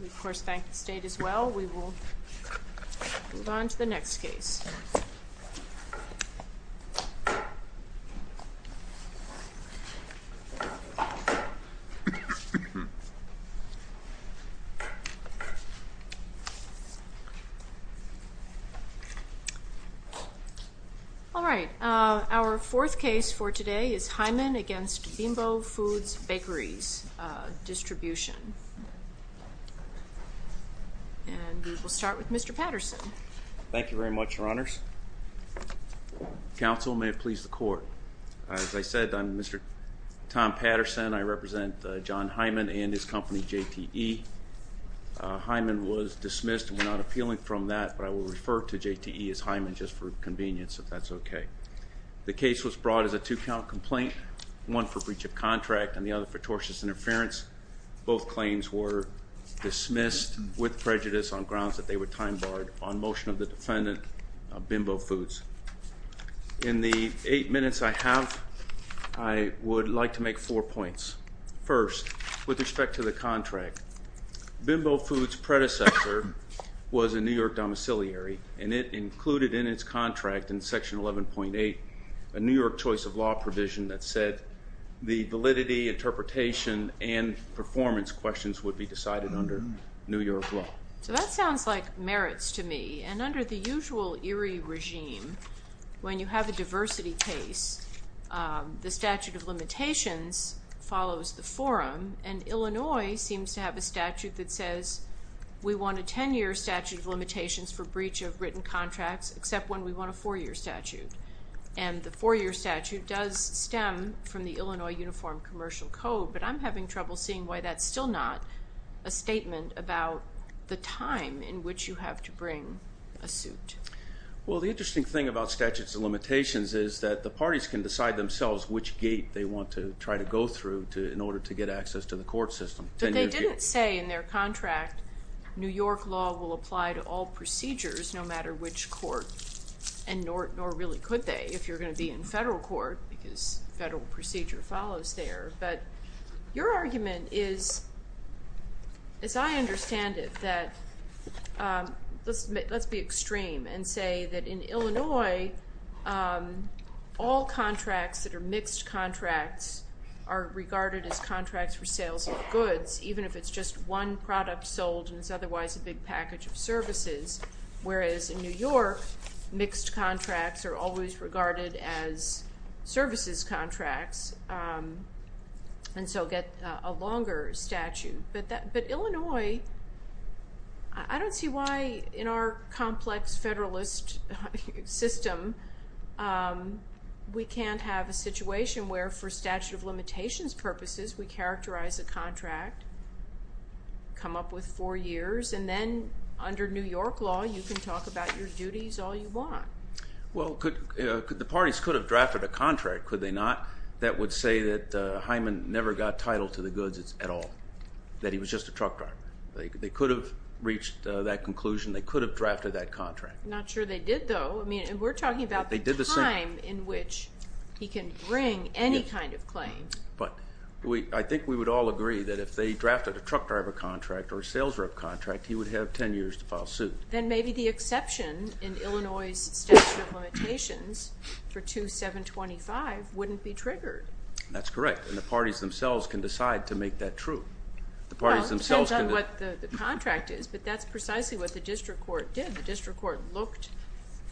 We of course thank the state as well. We will move on to the next case. Alright, our fourth case for today is Heiman v. Bimbo Foods Bakeries Distribution. And we will start with Mr. Patterson. Thank you very much, your honors. Counsel, may it please the court. As I said, I'm Mr. Tom Patterson. I represent John Heiman and his company JTE. Heiman was dismissed and we're not appealing from that, but I will refer to JTE as Heiman just for convenience, if that's okay. The case was brought as a two-count complaint, one for breach of contract and the other for tortious interference. Both claims were dismissed with prejudice on grounds that they were time barred on motion of the defendant, Bimbo Foods. In the eight minutes I have, I would like to make four points. First, with respect to the contract, Bimbo Foods' predecessor was a New York domiciliary and it included in its contract, in section 11.8, a New York choice of law provision that said that the validity, interpretation, and performance questions would be decided under New York law. So that sounds like merits to me. And under the usual Erie regime, when you have a diversity case, the statute of limitations follows the forum and Illinois seems to have a statute that says we want a 10-year statute of limitations for breach of written contracts except when we want a four-year statute. And the four-year statute does stem from the Illinois Uniform Commercial Code, but I'm having trouble seeing why that's still not a statement about the time in which you have to bring a suit. Well, the interesting thing about statutes of limitations is that the parties can decide themselves which gate they want to try to go through in order to get access to the court system. But they didn't say in their contract New York law will apply to all procedures, no matter which court, and nor really could they if you're going to be in federal court because federal procedure follows there. But your argument is, as I understand it, that let's be extreme and say that in Illinois, all contracts that are mixed contracts are regarded as contracts for sales of goods, even if it's just one product sold and it's otherwise a big package of services, whereas in New York, mixed contracts are always regarded as services contracts and so get a longer statute. But Illinois, I don't see why in our complex federalist system we can't have a situation where, for statute of limitations purposes, we characterize a contract, come up with four years, and then under New York law you can talk about your duties all you want. Well, the parties could have drafted a contract, could they not, that would say that Hyman never got title to the goods at all, that he was just a truck driver. They could have reached that conclusion. They could have drafted that contract. I'm not sure they did, though. We're talking about the time in which he can bring any kind of claim. But I think we would all agree that if they drafted a truck driver contract or a sales rep contract, he would have 10 years to file suit. Then maybe the exception in Illinois' statute of limitations for 2725 wouldn't be triggered. That's correct, and the parties themselves can decide to make that true. Well, it depends on what the contract is, but that's precisely what the district court did. The district court looked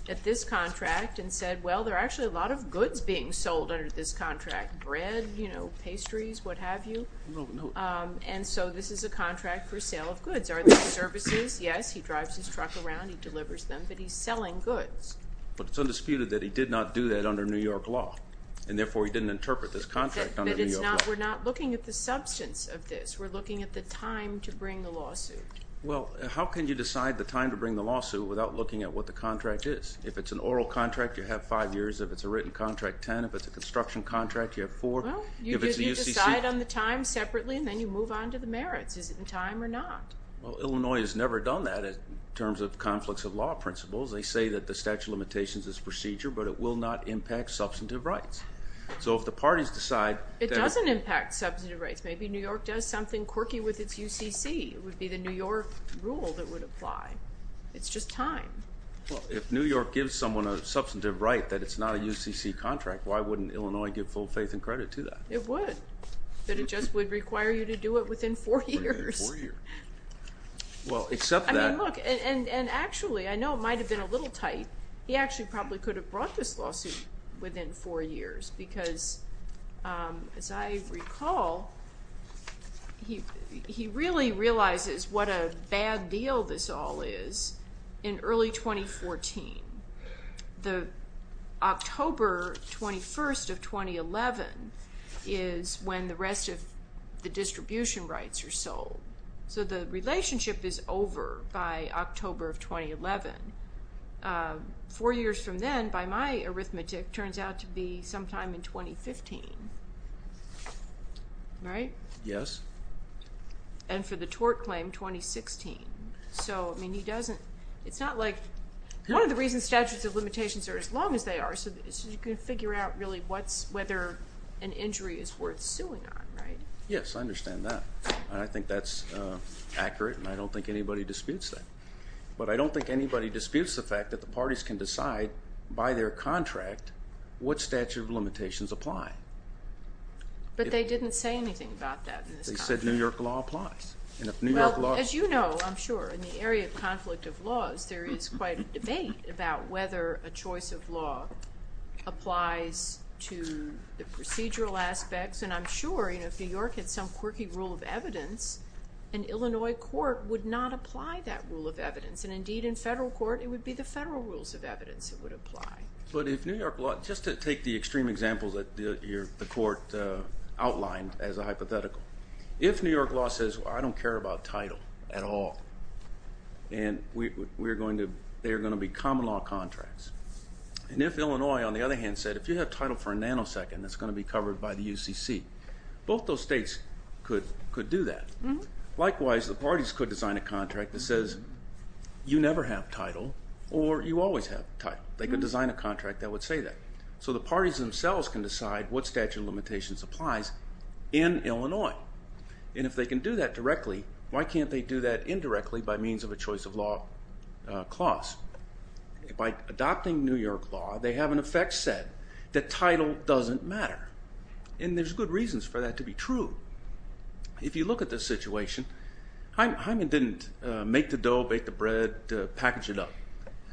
at this contract and said, well, there are actually a lot of goods being sold under this contract, bread, pastries, what have you. And so this is a contract for sale of goods. Are there services? Yes, he drives his truck around, he delivers them, but he's selling goods. But it's undisputed that he did not do that under New York law, and therefore he didn't interpret this contract under New York law. We're not looking at the substance of this. We're looking at the time to bring the lawsuit. Well, how can you decide the time to bring the lawsuit without looking at what the contract is? If it's an oral contract, you have five years. If it's a written contract, ten. If it's a construction contract, you have four. Well, you decide on the time separately, and then you move on to the merits. Is it in time or not? Well, Illinois has never done that in terms of conflicts of law principles. They say that the statute of limitations is procedure, but it will not impact substantive rights. So if the parties decide that it doesn't impact substantive rights, maybe New York does something quirky with its UCC. It would be the New York rule that would apply. It's just time. Well, if New York gives someone a substantive right that it's not a UCC contract, why wouldn't Illinois give full faith and credit to that? It would, but it just would require you to do it within four years. Within four years. Well, except that. I mean, look, and actually I know it might have been a little tight. He actually probably could have brought this lawsuit within four years because, as I recall, he really realizes what a bad deal this all is in early 2014. The October 21st of 2011 is when the rest of the distribution rights are sold. So the relationship is over by October of 2011. Four years from then, by my arithmetic, turns out to be sometime in 2015. Right? Yes. And for the tort claim, 2016. So, I mean, it's not like one of the reasons statutes of limitations are as long as they are is so you can figure out really whether an injury is worth suing on, right? Yes, I understand that. I think that's accurate, and I don't think anybody disputes that. But I don't think anybody disputes the fact that the parties can decide by their contract what statute of limitations apply. But they didn't say anything about that. They said New York law applies. Well, as you know, I'm sure, in the area of conflict of laws, there is quite a debate about whether a choice of law applies to the procedural aspects. And I'm sure, you know, if New York had some quirky rule of evidence, an Illinois court would not apply that rule of evidence. And indeed, in federal court, it would be the federal rules of evidence that would apply. But if New York law, just to take the extreme examples that the court outlined as a hypothetical, if New York law says, I don't care about title at all, and they are going to be common law contracts, and if Illinois, on the other hand, said, if you have title for a nanosecond, it's going to be covered by the UCC, both those states could do that. Likewise, the parties could design a contract that says you never have title or you always have title. They could design a contract that would say that. So the parties themselves can decide what statute of limitations applies in Illinois. And if they can do that directly, why can't they do that indirectly by means of a choice of law clause? By adopting New York law, they have, in effect, said that title doesn't matter. And there's good reasons for that to be true. If you look at this situation, Hyman didn't make the dough, bake the bread, package it up.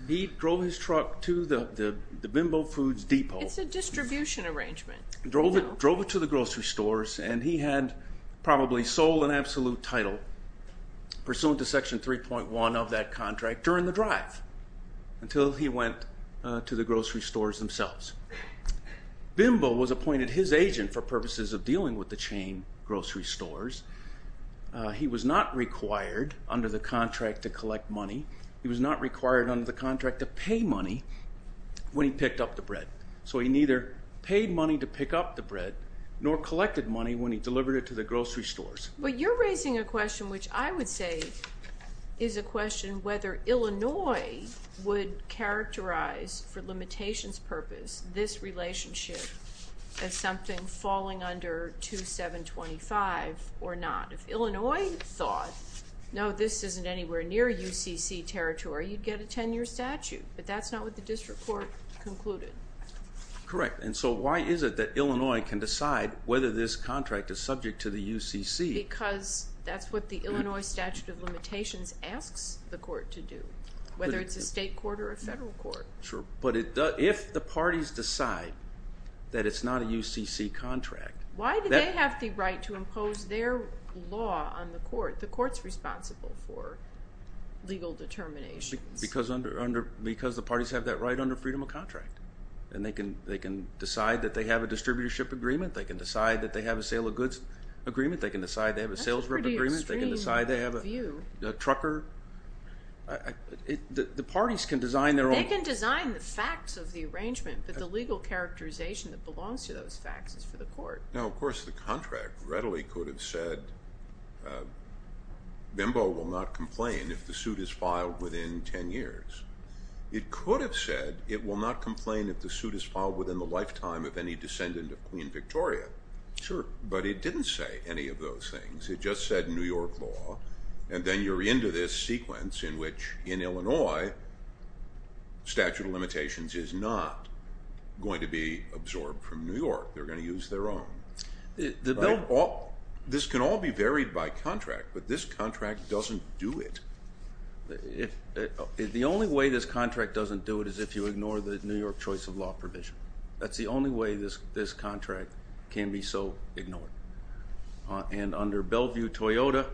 He drove his truck to the Bimbo Foods Depot. It's a distribution arrangement. Drove it to the grocery stores, and he had probably sold an absolute title, pursuant to Section 3.1 of that contract, during the drive, until he went to the grocery stores themselves. Bimbo was appointed his agent for purposes of dealing with the chain grocery stores. He was not required under the contract to collect money. He was not required under the contract to pay money when he picked up the bread. So he neither paid money to pick up the bread nor collected money when he delivered it to the grocery stores. But you're raising a question which I would say is a question whether Illinois would characterize, for limitations purpose, this relationship as something falling under 2725 or not. If Illinois thought, no, this isn't anywhere near UCC territory, you'd get a 10-year statute. But that's not what the district court concluded. Correct. And so why is it that Illinois can decide whether this contract is subject to the UCC? Because that's what the Illinois statute of limitations asks the court to do, whether it's a state court or a federal court. Sure, but if the parties decide that it's not a UCC contract... Why do they have the right to impose their law on the court? The court's responsible for legal determinations. Because the parties have that right under freedom of contract. And they can decide that they have a distributorship agreement. They can decide that they have a sale of goods agreement. They can decide they have a sales group agreement. That's a pretty extreme view. They can decide they have a trucker. The parties can design their own... They can design the facts of the arrangement, but the legal characterization that belongs to those facts is for the court. Now, of course, the contract readily could have said, Bimbo will not complain if the suit is filed within 10 years. It could have said it will not complain if the suit is filed within the lifetime of any descendant of Queen Victoria. Sure. But it didn't say any of those things. It just said New York law, and then you're into this sequence in which, in Illinois, statute of limitations is not going to be absorbed from New York. They're going to use their own. This can all be varied by contract, but this contract doesn't do it. The only way this contract doesn't do it is if you ignore the New York choice of law provision. That's the only way this contract can be so ignored. And under Bellevue-Toyota,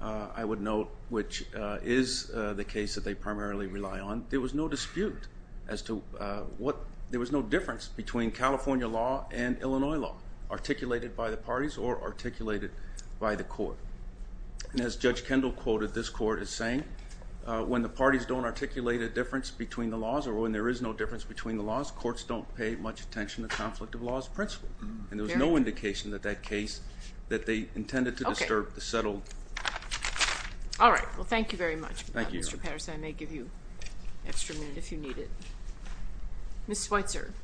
I would note, which is the case that they primarily rely on, there was no dispute as to what there was no difference between California law and Illinois law, articulated by the parties or articulated by the court. And as Judge Kendall quoted, this court is saying when the parties don't articulate a difference between the laws or when there is no difference between the laws, courts don't pay much attention to conflict of laws principle. And there was no indication that that case that they intended to disturb the settled. All right. Well, thank you very much, Mr. Patterson. I may give you an extra minute if you need it. Ms. Switzer.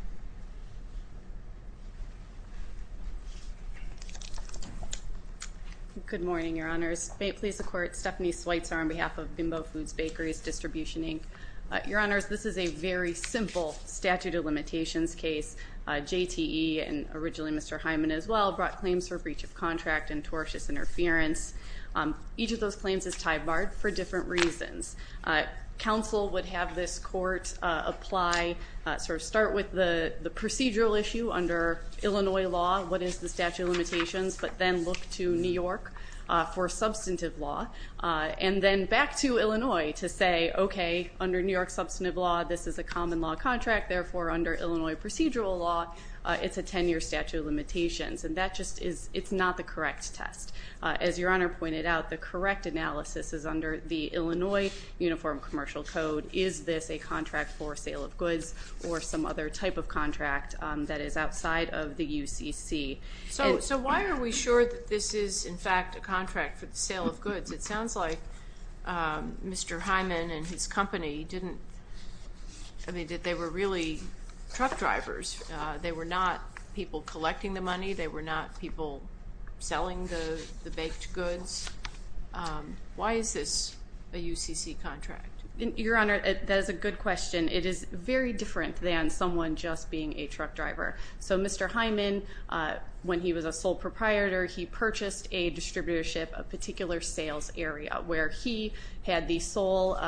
Good morning, Your Honors. May it please the Court, Stephanie Switzer on behalf of Bimbo Foods Bakery's Distribution, Inc. Your Honors, this is a very simple statute of limitations case. JTE, and originally Mr. Hyman as well, brought claims for breach of contract and tortious interference. Each of those claims is tie-barred for different reasons. Counsel would have this court apply, sort of start with the procedural issue under Illinois law, what is the statute of limitations, but then look to New York for substantive law, and then back to Illinois to say, okay, under New York substantive law, this is a common law contract. Therefore, under Illinois procedural law, it's a 10-year statute of limitations. And that just is not the correct test. As Your Honor pointed out, the correct analysis is under the Illinois Uniform Commercial Code. Is this a contract for sale of goods or some other type of contract that is outside of the UCC? So why are we sure that this is, in fact, a contract for the sale of goods? It sounds like Mr. Hyman and his company didn't, I mean, that they were really truck drivers. They were not people collecting the money. They were not people selling the baked goods. Why is this a UCC contract? Your Honor, that is a good question. It is very different than someone just being a truck driver. So Mr. Hyman, when he was a sole proprietor, he purchased a distributorship, a particular sales area, where he had the sole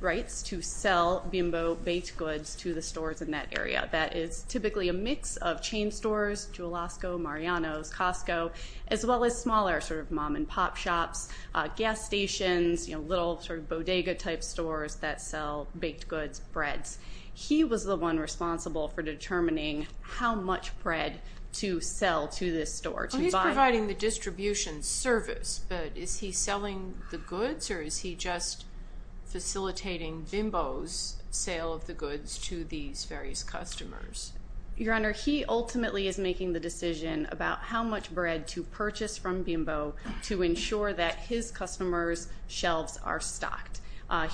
rights to sell bimbo baked goods to the stores in that area. That is typically a mix of chain stores, Jewelosco, Mariano's, Costco, as well as smaller sort of mom-and-pop shops, gas stations, little sort of bodega-type stores that sell baked goods, breads. He was the one responsible for determining how much bread to sell to this store, to buy. He's providing the distribution service, but is he selling the goods, or is he just facilitating bimbo's sale of the goods to these various customers? Your Honor, he ultimately is making the decision about how much bread to purchase from bimbo to ensure that his customers' shelves are stocked.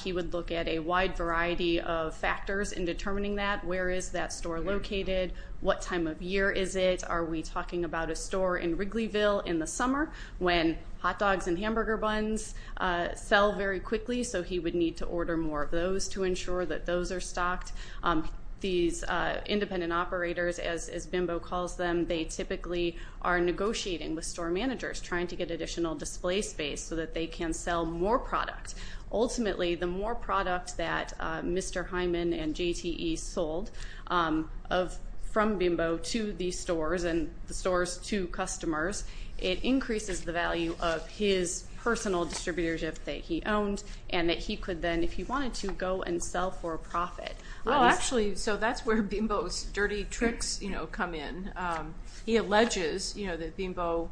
He would look at a wide variety of factors in determining that. Where is that store located? What time of year is it? Are we talking about a store in Wrigleyville in the summer when hot dogs and hamburger buns sell very quickly? So he would need to order more of those to ensure that those are stocked. These independent operators, as bimbo calls them, they typically are negotiating with store managers, trying to get additional display space so that they can sell more product. Ultimately, the more product that Mr. Hyman and JTE sold from bimbo to these stores and the stores to customers, it increases the value of his personal distributorship that he owned and that he could then, if he wanted to, go and sell for a profit. Actually, so that's where bimbo's dirty tricks come in. He alleges that bimbo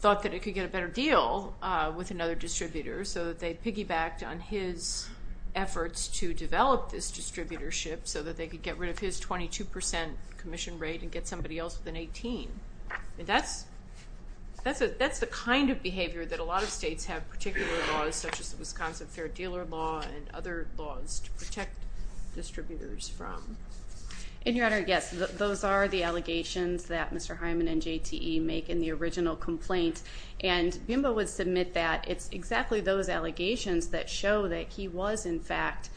thought that it could get a better deal with another distributor so that they piggybacked on his efforts to develop this distributorship so that they could get rid of his 22 percent commission rate and get somebody else with an 18. And that's the kind of behavior that a lot of states have particular laws, such as the Wisconsin Fair Dealer Law and other laws to protect distributors from. And, Your Honor, yes, those are the allegations that Mr. Hyman and JTE make in the original complaint. And bimbo would submit that it's exactly those allegations that show that he was, in fact,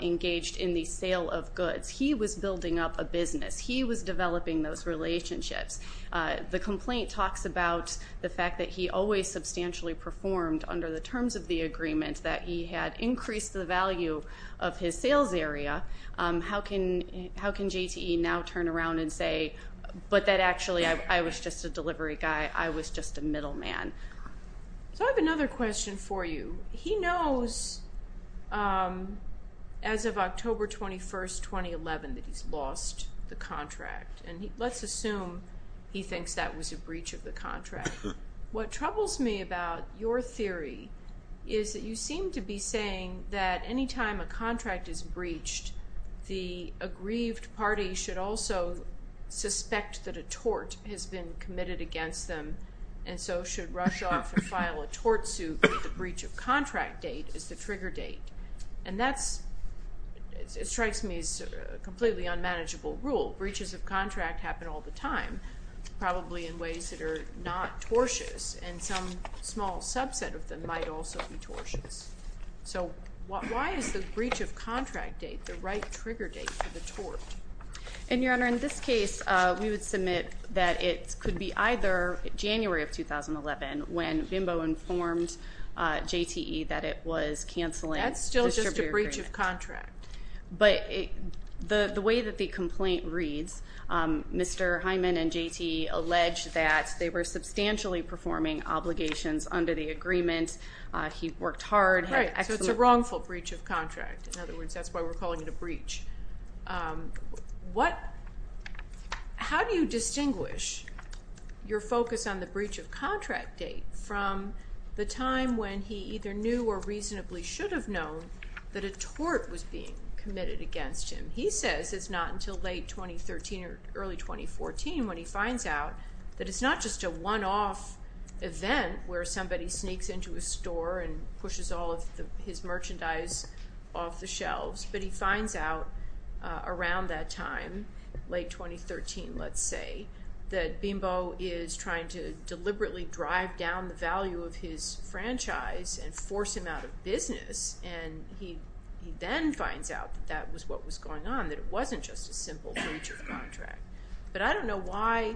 engaged in the sale of goods. He was building up a business. He was developing those relationships. The complaint talks about the fact that he always substantially performed under the terms of the agreement, that he had increased the value of his sales area. How can JTE now turn around and say, but that actually I was just a delivery guy, I was just a middleman? So I have another question for you. He knows as of October 21, 2011, that he's lost the contract. And let's assume he thinks that was a breach of the contract. What troubles me about your theory is that you seem to be saying that any time a contract is breached, the aggrieved party should also suspect that a tort has been committed against them and so should rush off and file a tort suit if the breach of contract date is the trigger date. And that strikes me as a completely unmanageable rule. Breaches of contract happen all the time, probably in ways that are not tortious, and some small subset of them might also be tortious. So why is the breach of contract date the right trigger date for the tort? And, Your Honor, in this case, we would submit that it could be either January of 2011, when BIMBO informed JTE that it was canceling the distributor agreement. That's still just a breach of contract. But the way that the complaint reads, Mr. Hyman and JTE allege that they were substantially performing obligations under the agreement. He worked hard. Right, so it's a wrongful breach of contract. In other words, that's why we're calling it a breach. How do you distinguish your focus on the breach of contract date from the time when he either knew or reasonably should have known that a tort was being committed against him? He says it's not until late 2013 or early 2014 when he finds out that it's not just a one-off event where somebody sneaks into a store and pushes all of his merchandise off the shelves, but he finds out around that time, late 2013, let's say, that BIMBO is trying to deliberately drive down the value of his franchise and force him out of business, and he then finds out that that was what was going on, that it wasn't just a simple breach of contract. But I don't know why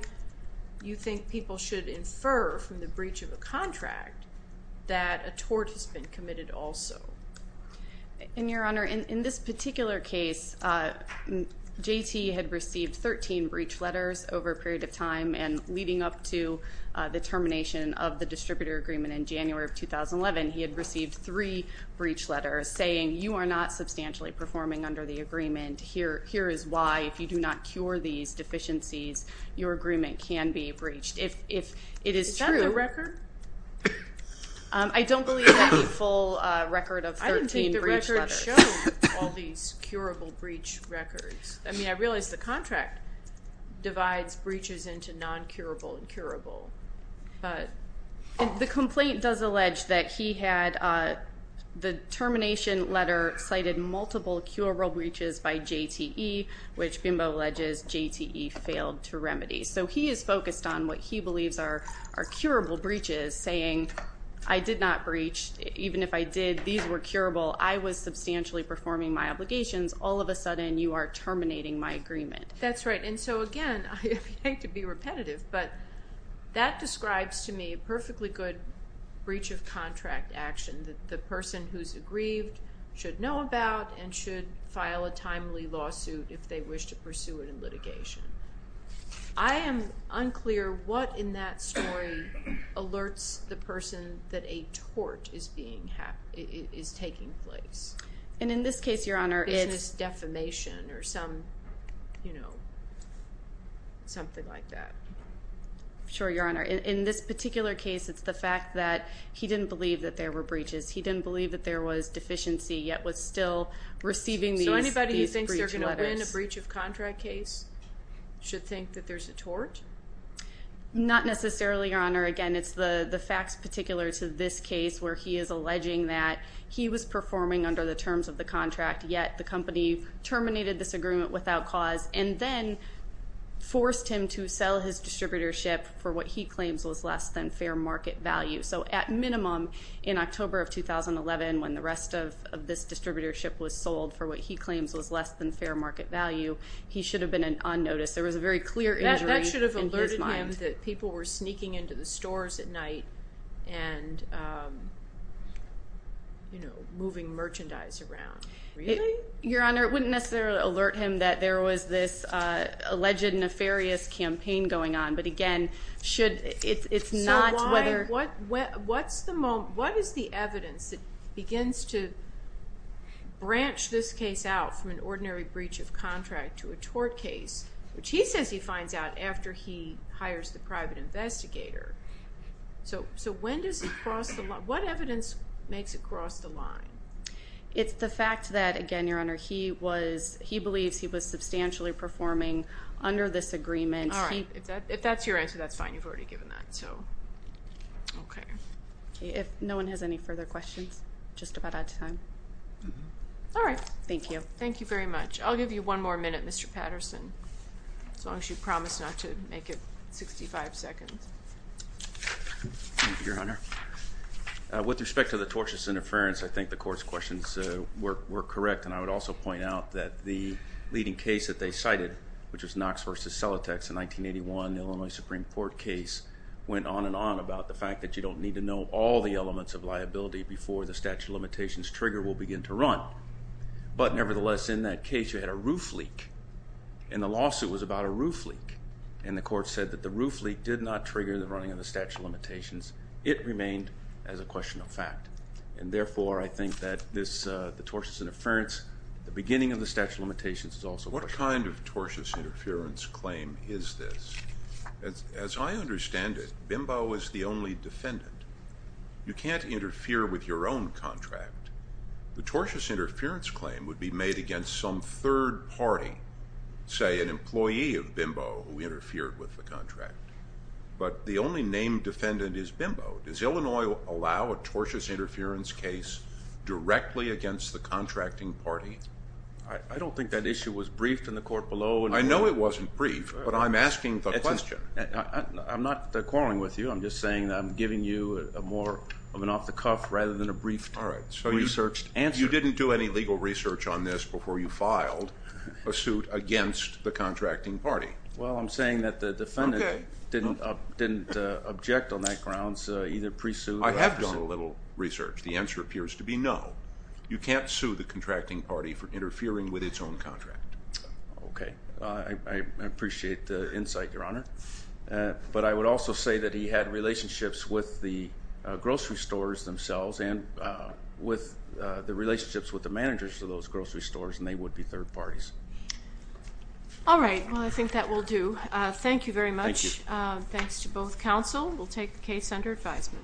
you think people should infer from the breach of a contract that a tort has been committed also. And, Your Honor, in this particular case, JT had received 13 breach letters over a period of time, and leading up to the termination of the distributor agreement in January of 2011, he had received three breach letters saying, You are not substantially performing under the agreement. Here is why, if you do not cure these deficiencies, your agreement can be breached. Is that the record? I don't believe that the full record of 13 breach letters. I didn't think the record showed all these curable breach records. I mean, I realize the contract divides breaches into non-curable and curable. The complaint does allege that he had the termination letter cited multiple curable breaches by JTE, which BIMBO alleges JTE failed to remedy. So he is focused on what he believes are curable breaches, saying, I did not breach. Even if I did, these were curable. I was substantially performing my obligations. All of a sudden, you are terminating my agreement. That's right. And so, again, I hate to be repetitive, but that describes to me a perfectly good breach of contract action that the person who's aggrieved should know about and should file a timely lawsuit if they wish to pursue it in litigation. I am unclear what in that story alerts the person that a tort is taking place. And in this case, your Honor, it's… Business defamation or some, you know, something like that. Sure, your Honor. In this particular case, it's the fact that he didn't believe that there were breaches. He didn't believe that there was deficiency, yet was still receiving these breach letters. Should think that there's a tort? Not necessarily, your Honor. Again, it's the facts particular to this case where he is alleging that he was performing under the terms of the contract, yet the company terminated this agreement without cause, and then forced him to sell his distributorship for what he claims was less than fair market value. So at minimum, in October of 2011, when the rest of this distributorship was sold for what he claims was less than fair market value, he should have been on notice. There was a very clear injury in his mind. That should have alerted him that people were sneaking into the stores at night and, you know, moving merchandise around. Really? Your Honor, it wouldn't necessarily alert him that there was this alleged nefarious campaign going on. But again, it's not whether… What is the evidence that begins to branch this case out from an ordinary breach of contract to a tort case, which he says he finds out after he hires the private investigator? So when does it cross the line? What evidence makes it cross the line? It's the fact that, again, your Honor, he believes he was substantially performing under this agreement. All right. If that's your answer, that's fine. You've already given that. Okay. If no one has any further questions, just about out of time. All right. Thank you. Thank you very much. I'll give you one more minute, Mr. Patterson, as long as you promise not to make it 65 seconds. Thank you, Your Honor. With respect to the tortious interference, I think the court's questions were correct, and I would also point out that the leading case that they cited, which was Knox v. Selatex in 1981, the Illinois Supreme Court case, went on and on about the fact that you don't need to know all the elements of liability before the statute of limitations trigger will begin to run. But nevertheless, in that case, you had a roof leak, and the lawsuit was about a roof leak, and the court said that the roof leak did not trigger the running of the statute of limitations. It remained as a question of fact. And therefore, I think that the tortious interference at the beginning of the statute of limitations is also a question. What kind of tortious interference claim is this? As I understand it, Bimbo is the only defendant. You can't interfere with your own contract. The tortious interference claim would be made against some third party, say an employee of Bimbo, who interfered with the contract. But the only named defendant is Bimbo. Does Illinois allow a tortious interference case directly against the contracting party? I don't think that issue was briefed in the court below. I know it wasn't briefed, but I'm asking the question. I'm not quarreling with you. I'm just saying that I'm giving you more of an off-the-cuff rather than a briefed, researched answer. You didn't do any legal research on this before you filed a suit against the contracting party. Well, I'm saying that the defendant didn't object on that grounds, either pre-suit or after suit. I have done a little research. The answer appears to be no. You can't sue the contracting party for interfering with its own contract. Okay. I appreciate the insight, Your Honor. But I would also say that he had relationships with the grocery stores themselves and with the relationships with the managers of those grocery stores, and they would be third parties. All right. Well, I think that will do. Thank you very much. Thank you. Thanks to both counsel. We'll take the case under advisement.